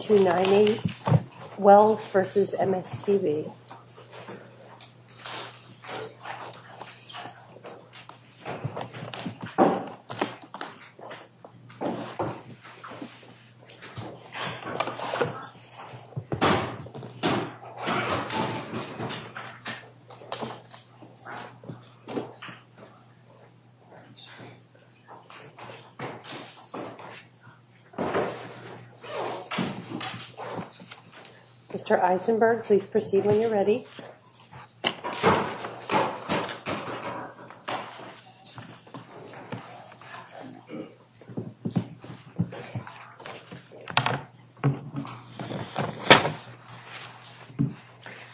290 Wells versus MSPB Mr. Eisenberg please proceed when you're ready.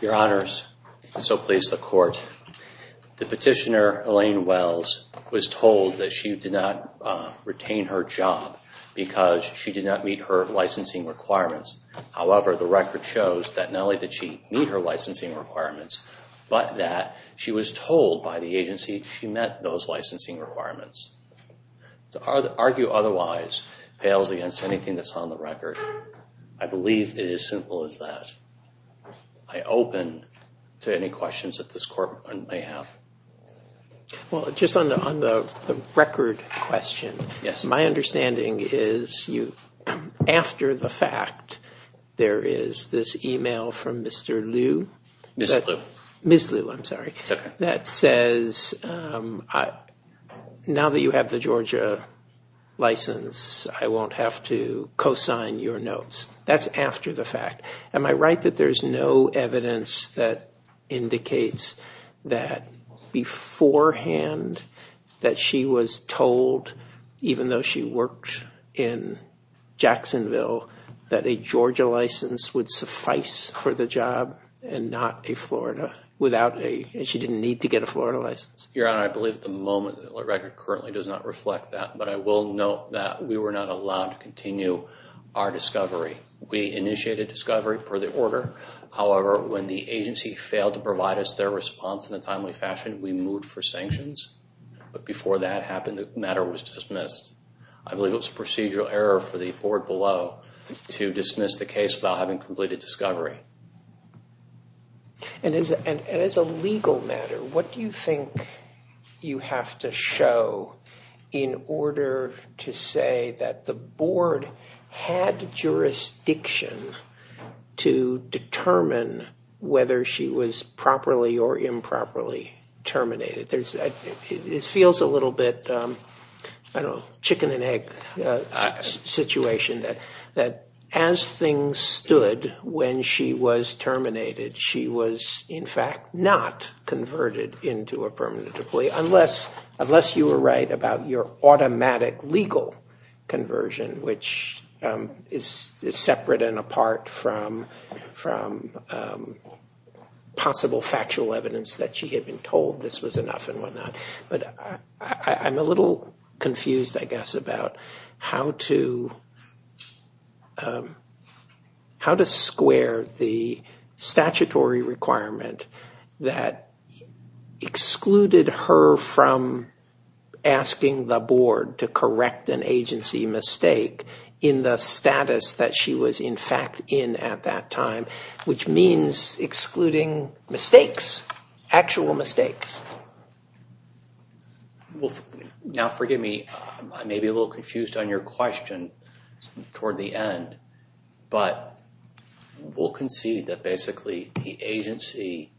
Your honors, so please the court. The petitioner Elaine Wells was told that she did not retain her job because she did not meet her licensing requirements. However, the record shows that not only did she meet her licensing requirements, but that she was told by the agency she met those licensing requirements. To argue otherwise fails against anything that's on the record. I believe it is simple as that. I open to any questions that this court may have. Well, just on the record question, my understanding is you, after the fact, there is this email from Mr. Liu. Ms. Liu, I'm sorry. That says now that you have the Georgia license, I won't have to co-sign your notes. That's after the fact. Am I right that there's no evidence that indicates that beforehand that she was told, even though she worked in Jacksonville, that a Georgia license would suffice for the job and not a Florida, and she didn't need to get a Florida license? Your honor, I believe at the moment the record currently does not reflect that, but I will note that we were not allowed to continue our discovery. We initiated discovery per the order. However, when the agency failed to provide us their response in a timely fashion, we moved for sanctions. But before that happened, the matter was dismissed. I believe it was a procedural error for the board below to dismiss the case without having completed discovery. And as a legal matter, what do you think you have to show in order to say that the board had jurisdiction to determine whether she was properly or improperly terminated? It feels a little bit, I don't know, chicken and egg situation that as things stood when she was terminated, she was in fact not converted into a permanent employee, unless you were right about your automatic legal conversion, which is separate and apart from possible factual evidence that she had been told this was enough and whatnot. But I'm a little confused, I guess, about how to square the statutory requirement that excluded her from asking the board to correct an agency mistake in the status that she was in fact in at that time, which means excluding mistakes, actual mistakes. Now forgive me, I may be a little confused on your question toward the end, but we'll concede that basically the agency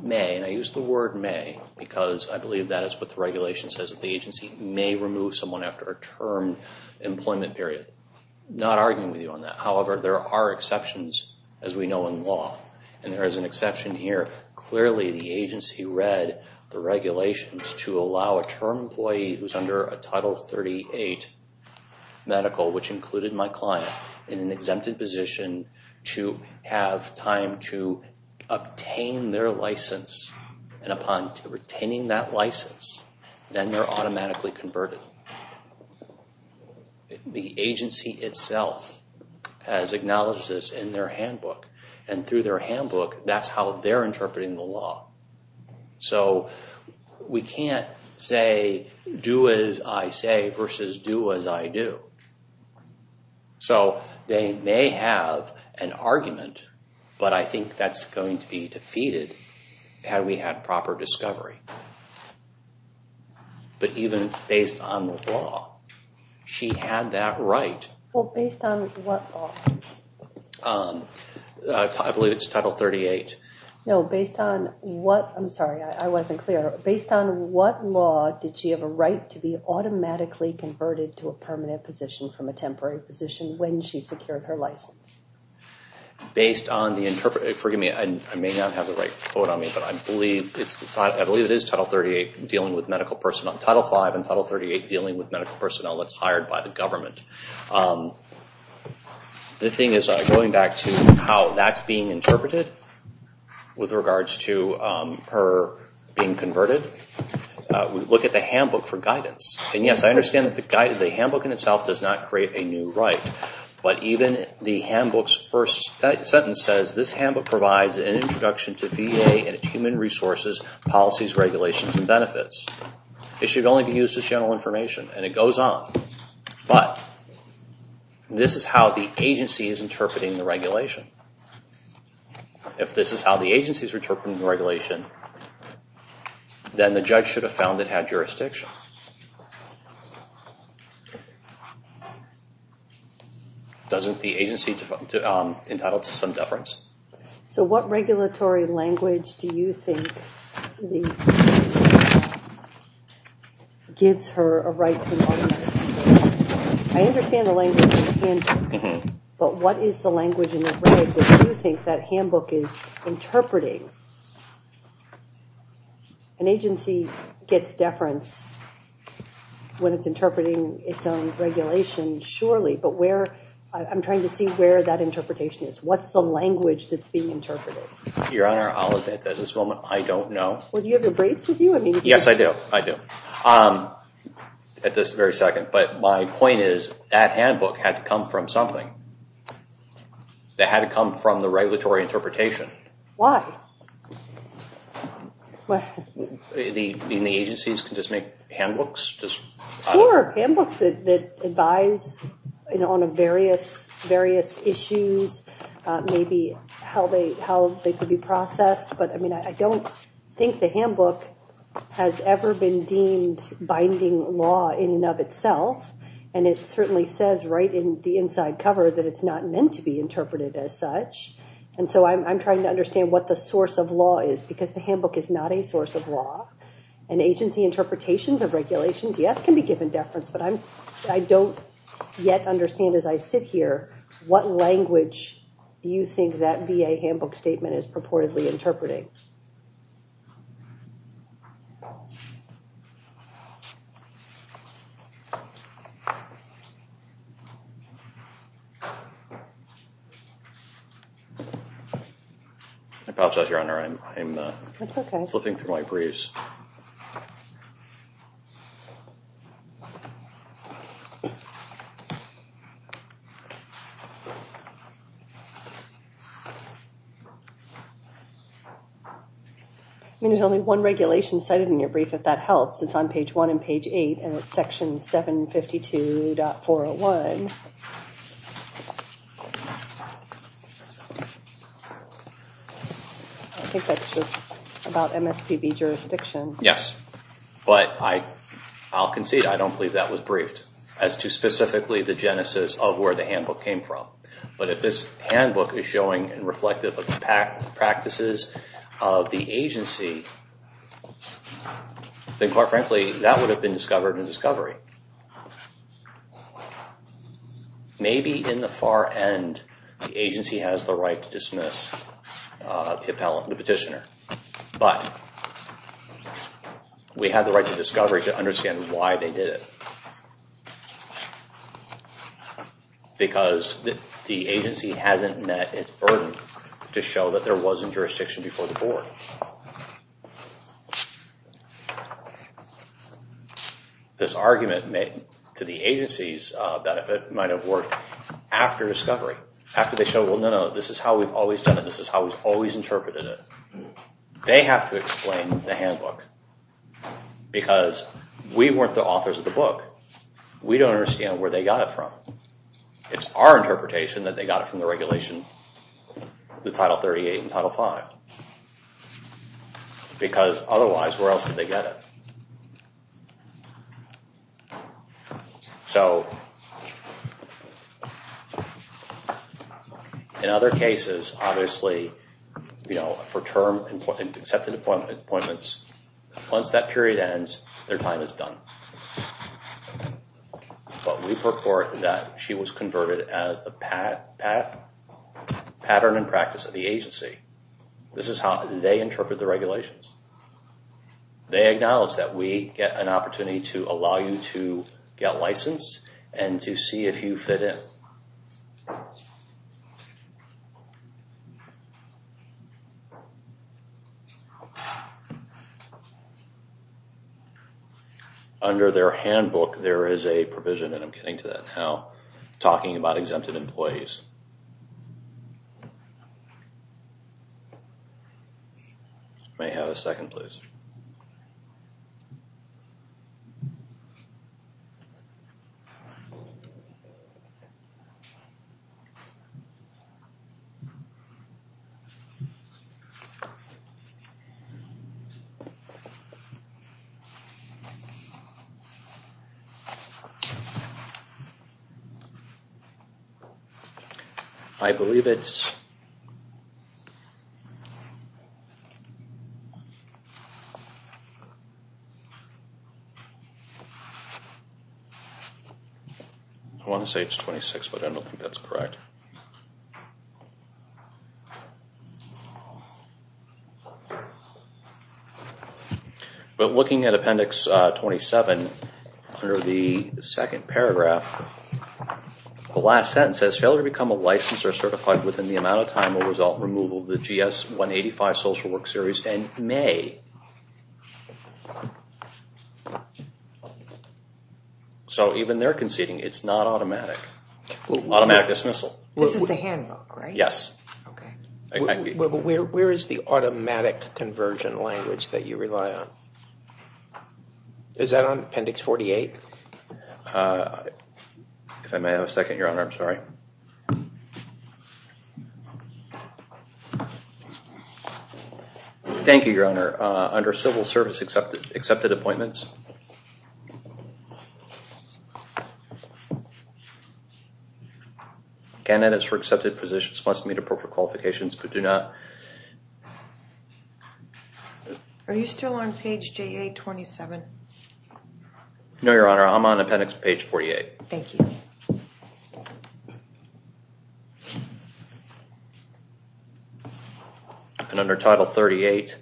may, and I use the word may because I believe that is what the regulation says, that the agency may remove someone after a term employment period. I'm not arguing with you on that. However, there are exceptions, as we know in law, and there is an exception here. Clearly the agency read the regulations to allow a term employee who's under a Title 38 medical, which included my client, in an exempted position to have time to obtain their license, and upon retaining that license, then they're automatically converted. The agency itself has acknowledged this in their handbook, and through their handbook, that's how they're interpreting the law. So we can't say do as I say versus do as I do. So they may have an argument, but I think that's going to be defeated had we had proper discovery. But even based on the law, she had that right. Well, based on what law? I believe it's Title 38. No, based on what? I'm sorry. I wasn't clear. Based on what law did she have a right to be automatically converted to a permanent position from a temporary position when she secured her license? Based on the interpretation. Forgive me. I may not have the right quote on me, but I believe it is Title 38 dealing with medical personnel. Title 5 and Title 38 dealing with medical personnel that's hired by the government. The thing is, going back to how that's being interpreted with regards to her being converted, we look at the handbook for guidance. And, yes, I understand that the handbook in itself does not create a new right, but even the handbook's first sentence says, this handbook provides an introduction to VA and its human resources, policies, regulations, and benefits. It should only be used as general information, and it goes on. But this is how the agency is interpreting the regulation. If this is how the agency is interpreting the regulation, then the judge should have found it had jurisdiction. Doesn't the agency entitled to some deference? So what regulatory language do you think gives her a right to an alternative? I understand the language in the handbook, but what is the language in the regulations that you think that handbook is interpreting? An agency gets deference when it's interpreting its own regulation, surely, but I'm trying to see where that interpretation is. What's the language that's being interpreted? Your Honor, at this moment, I don't know. Well, do you have your braids with you? Yes, I do. At this very second. But my point is that handbook had to come from something. It had to come from the regulatory interpretation. Why? The agencies can just make handbooks? Sure, handbooks that advise on various issues, maybe how they could be processed. But I don't think the handbook has ever been deemed binding law in and of itself, and it certainly says right in the inside cover that it's not meant to be interpreted as such. And so I'm trying to understand what the source of law is, because the handbook is not a source of law. And agency interpretations of regulations, yes, can be given deference, but I don't yet understand as I sit here, what language do you think that VA handbook statement is purportedly interpreting? I apologize, Your Honor. That's okay. I'm still flipping through my briefs. I mean, there's only one regulation cited in your brief, if that helps. It's on page 1 and page 8, and it's section 752.401. I think that's just about MSPB jurisdiction. Yes. But I'll concede, I don't believe that was briefed, as to specifically the genesis of where the handbook came from. But if this handbook is showing and reflective of the practices of the agency, then quite frankly, that would have been discovered in discovery. Maybe in the far end, the agency has the right to dismiss the petitioner, but we have the right to discovery to understand why they did it. Because the agency hasn't met its burden to show that there wasn't jurisdiction before the board. This argument to the agency's benefit might have worked after discovery, after they showed, well, no, no, this is how we've always done it, this is how we've always interpreted it. They have to explain the handbook, because we weren't the authors of the book. We don't understand where they got it from. It's our interpretation that they got it from the regulation, the Title 38 and Title 5. Because otherwise, where else did they get it? In other cases, obviously, for term and accepted appointments, once that period ends, their time is done. But we purport that she was converted as the pattern and practice of the agency. This is how they interpret the regulations. They acknowledge that we get an opportunity to allow you to get licensed and to see if you fit in. Under their handbook, there is a provision, and I'm getting to that now, talking about exempted employees. May I have a second, please? I believe it's... I want to say it's 26, but I don't think that's correct. But looking at Appendix 27, under the second paragraph, So even they're conceding it's not automatic. Automatic dismissal. This is the handbook, right? Yes. Okay. Where is the automatic conversion language that you rely on? Is that on Appendix 48? If I may have a second, Your Honor, I'm sorry. Thank you, Your Honor. Under civil service accepted appointments, candidates for accepted positions must meet appropriate qualifications but do not... Are you still on page JA-27? No, Your Honor, I'm on Appendix page 48. Thank you. And under Title 38,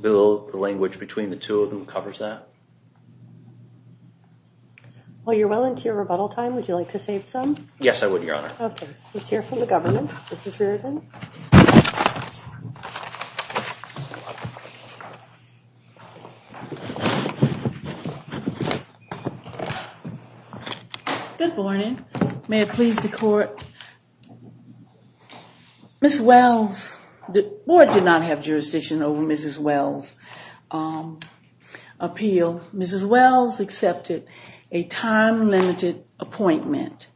Bill, the language between the two of them covers that? Well, you're well into your rebuttal time. Would you like to save some? Yes, I would, Your Honor. Okay. Let's hear from the government. Mrs. Reardon. Good morning. May it please the court. Ms. Wells, the board did not have jurisdiction over Mrs. Wells' appeal. Mrs. Wells accepted a time-limited appointment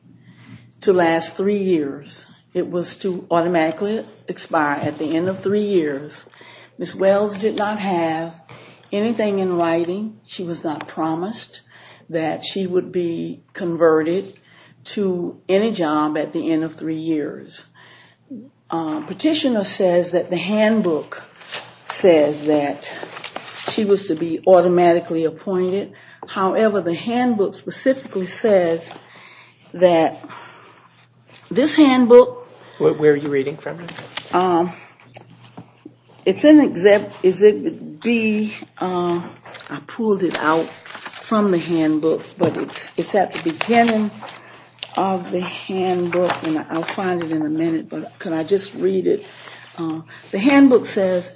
to last three years. It was to automatically expire at the end of three years. Ms. Wells did not have anything in writing. She was not promised that she would be converted to any job at the end of three years. Petitioner says that the handbook says that she was to be automatically appointed. However, the handbook specifically says that this handbook... Where are you reading from? It's in Exhibit D. I pulled it out from the handbook, but it's at the beginning of the handbook, and I'll find it in a minute, but could I just read it? The handbook says,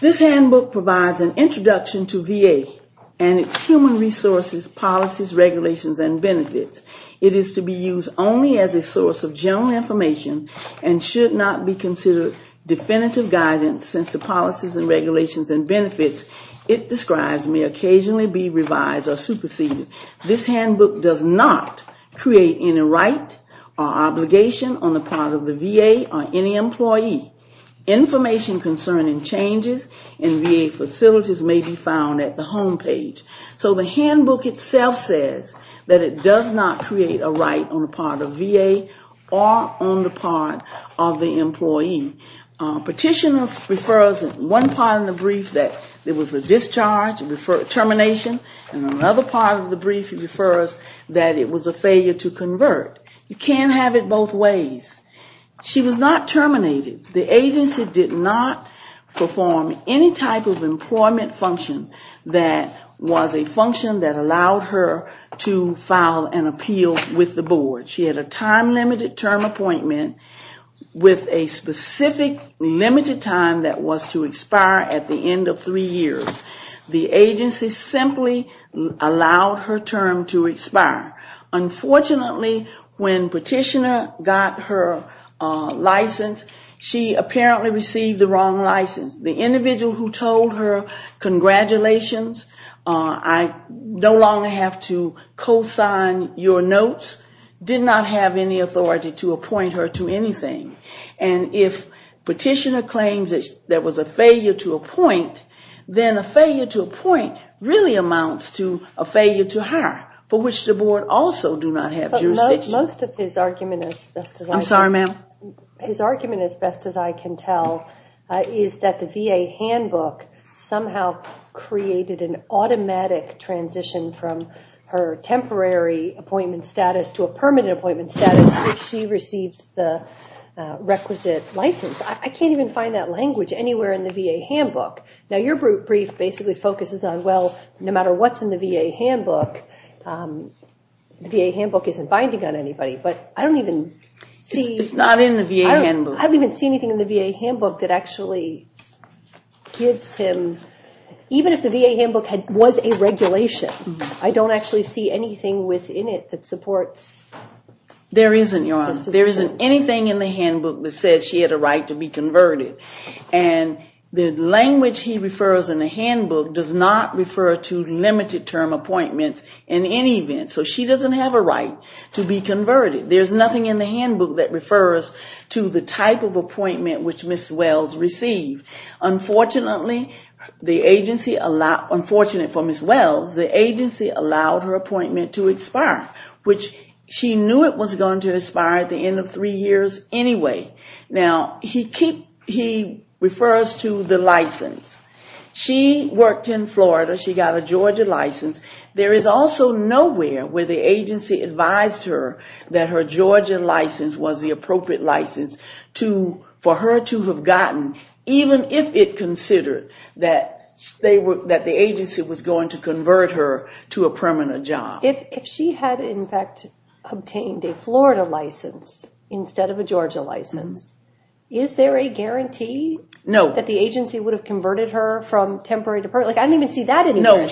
This handbook provides an introduction to VA and its human resources, policies, regulations, and benefits. It is to be used only as a source of general information and should not be considered definitive guidance, since the policies and regulations and benefits it describes may occasionally be revised or superseded. This handbook does not create any right or obligation on the part of the VA or any employee. Information concerning changes in VA facilities may be found at the homepage. So the handbook itself says that it does not create a right on the part of VA or on the part of the employee. Petitioner refers in one part of the brief that there was a discharge, termination, and in another part of the brief it refers that it was a failure to convert. You can't have it both ways. She was not terminated. The agency did not perform any type of employment function that was a function that allowed her to file an appeal with the board. She had a time-limited term appointment with a specific limited time that was to expire at the end of three years. The agency simply allowed her term to expire. Unfortunately, when Petitioner got her license, she apparently received the wrong license. The individual who told her congratulations, I no longer have to co-sign your notes, did not have any authority to appoint her to anything. And if Petitioner claims that there was a failure to appoint, then a failure to appoint really amounts to a failure to hire, for which the board also do not have jurisdiction. I'm sorry, ma'am? His argument, as best as I can tell, is that the VA handbook somehow created an automatic transition from her temporary appointment status to a permanent appointment status. She received the requisite license. I can't even find that language anywhere in the VA handbook. Now, your brief basically focuses on, well, no matter what's in the VA handbook, the VA handbook isn't binding on anybody. But I don't even see... It's not in the VA handbook. I don't even see anything in the VA handbook that actually gives him... Even if the VA handbook was a regulation, I don't actually see anything within it that supports... There isn't, Your Honor. There isn't anything in the handbook that says she had a right to be converted. And the language he refers in the handbook does not refer to limited term appointments in any event. So she doesn't have a right to be converted. There's nothing in the handbook that refers to the type of appointment which Ms. Wells received. Unfortunately, the agency allowed... Unfortunately for Ms. Wells, the agency allowed her appointment to expire, which she knew it was going to expire at the end of three years anyway. Now, he refers to the license. She worked in Florida. She got a Georgia license. There is also nowhere where the agency advised her that her Georgia license was the appropriate license for her to have gotten, even if it considered that the agency was going to convert her to a permanent job. If she had in fact obtained a Florida license instead of a Georgia license, is there a guarantee that the agency would have converted her from temporary to permanent? I don't even see that anywhere.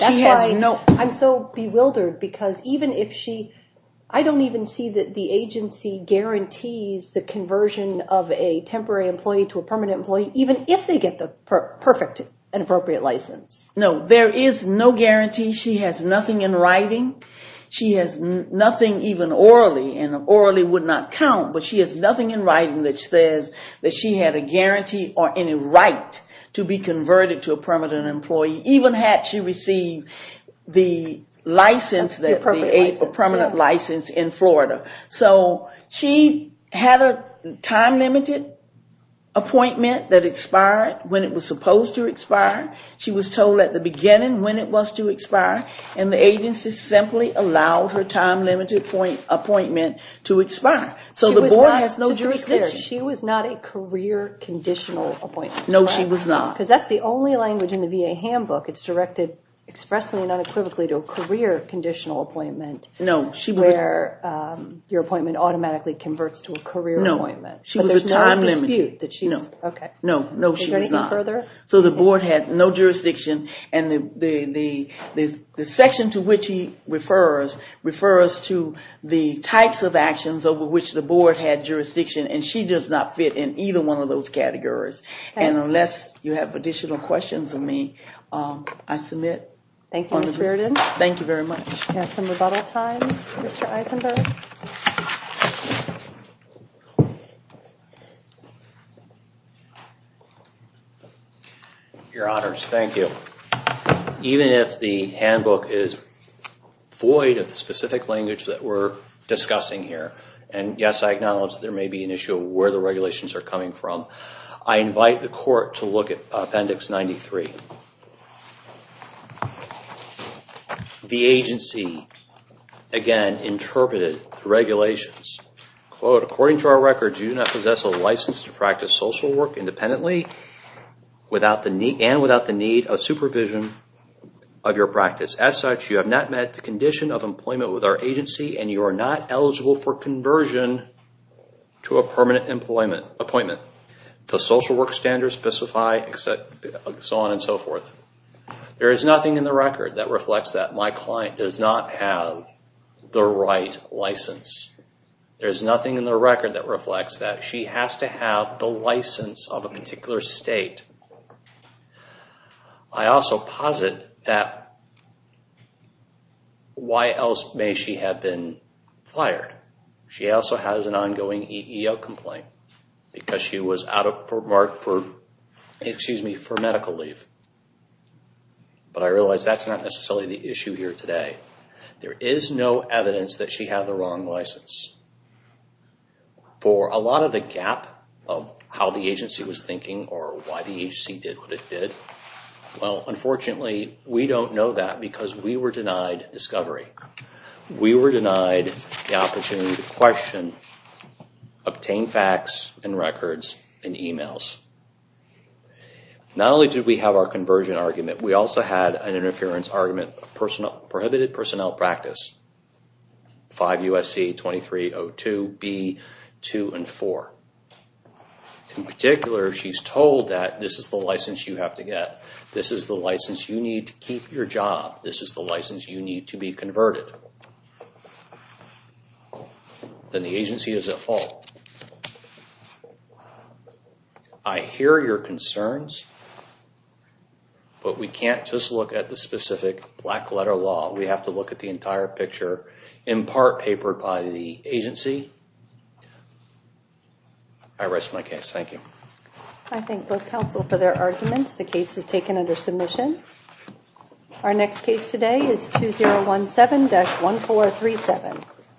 I'm so bewildered because even if she... I don't even see that the agency guarantees the conversion of a temporary employee to a permanent employee, even if they get the perfect and appropriate license. No, there is no guarantee. She has nothing in writing. She has nothing even orally, and orally would not count, but she has nothing in writing that says that she had a guarantee or any right to be converted to a permanent employee, even had she received the license, the permanent license in Florida. So she had a time-limited appointment that expired when it was supposed to expire. She was told at the beginning when it was to expire, and the agency simply allowed her time-limited appointment to expire. So the board has no jurisdiction. Just to be clear, she was not a career conditional appointment. No, she was not. Because that's the only language in the VA handbook. It's directed expressly and unequivocally to a career conditional appointment where your appointment automatically converts to a career appointment. No, she was a time-limited. No, no, she was not. Is there anything further? So the board had no jurisdiction, and the section to which he refers to the types of actions over which the board had jurisdiction, and she does not fit in either one of those categories. And unless you have additional questions of me, I submit. Thank you, Mr. Burden. Thank you very much. We have some rebuttal time. Mr. Eisenberg. Your honors, thank you. Even if the handbook is void of the specific language that we're discussing here, and yes, I acknowledge there may be an issue of where the regulations are coming from, I invite the court to look at Appendix 93. The agency, again, interpreted the regulations. Quote, according to our records, you do not possess a license to practice social work independently and without the need of supervision of your practice. As such, you have not met the condition of employment with our agency, and you are not eligible for conversion to a permanent appointment. The social work standards specify, so on and so forth. There is nothing in the record that reflects that. My client does not have the right license. There is nothing in the record that reflects that. She does not have the license of a particular state. I also posit that, why else may she have been fired? She also has an ongoing EEO complaint because she was out of Fort Mark for medical leave. But I realize that's not necessarily the issue here today. There is no evidence that she had the wrong license. For a lot of the gap of how the agency was thinking or why the agency did what it did, well, unfortunately, we don't know that because we were denied discovery. We were denied the opportunity to question, obtain facts and records and emails. Not only did we have our conversion argument, we also had an interference argument, a prohibited personnel practice. 5 U.S.C. 2302 B.2 and 4. In particular, she's told that this is the license you have to get. This is the license you need to keep your job. This is the license you need to be converted. Then the agency is at fault. I hear your concerns, but we can't just look at the specific black letter law. We have to look at the entire picture, in part, papered by the agency. I rest my case. Thank you. I thank both counsel for their arguments. The case is taken under submission. Our next case today is 2017-1437.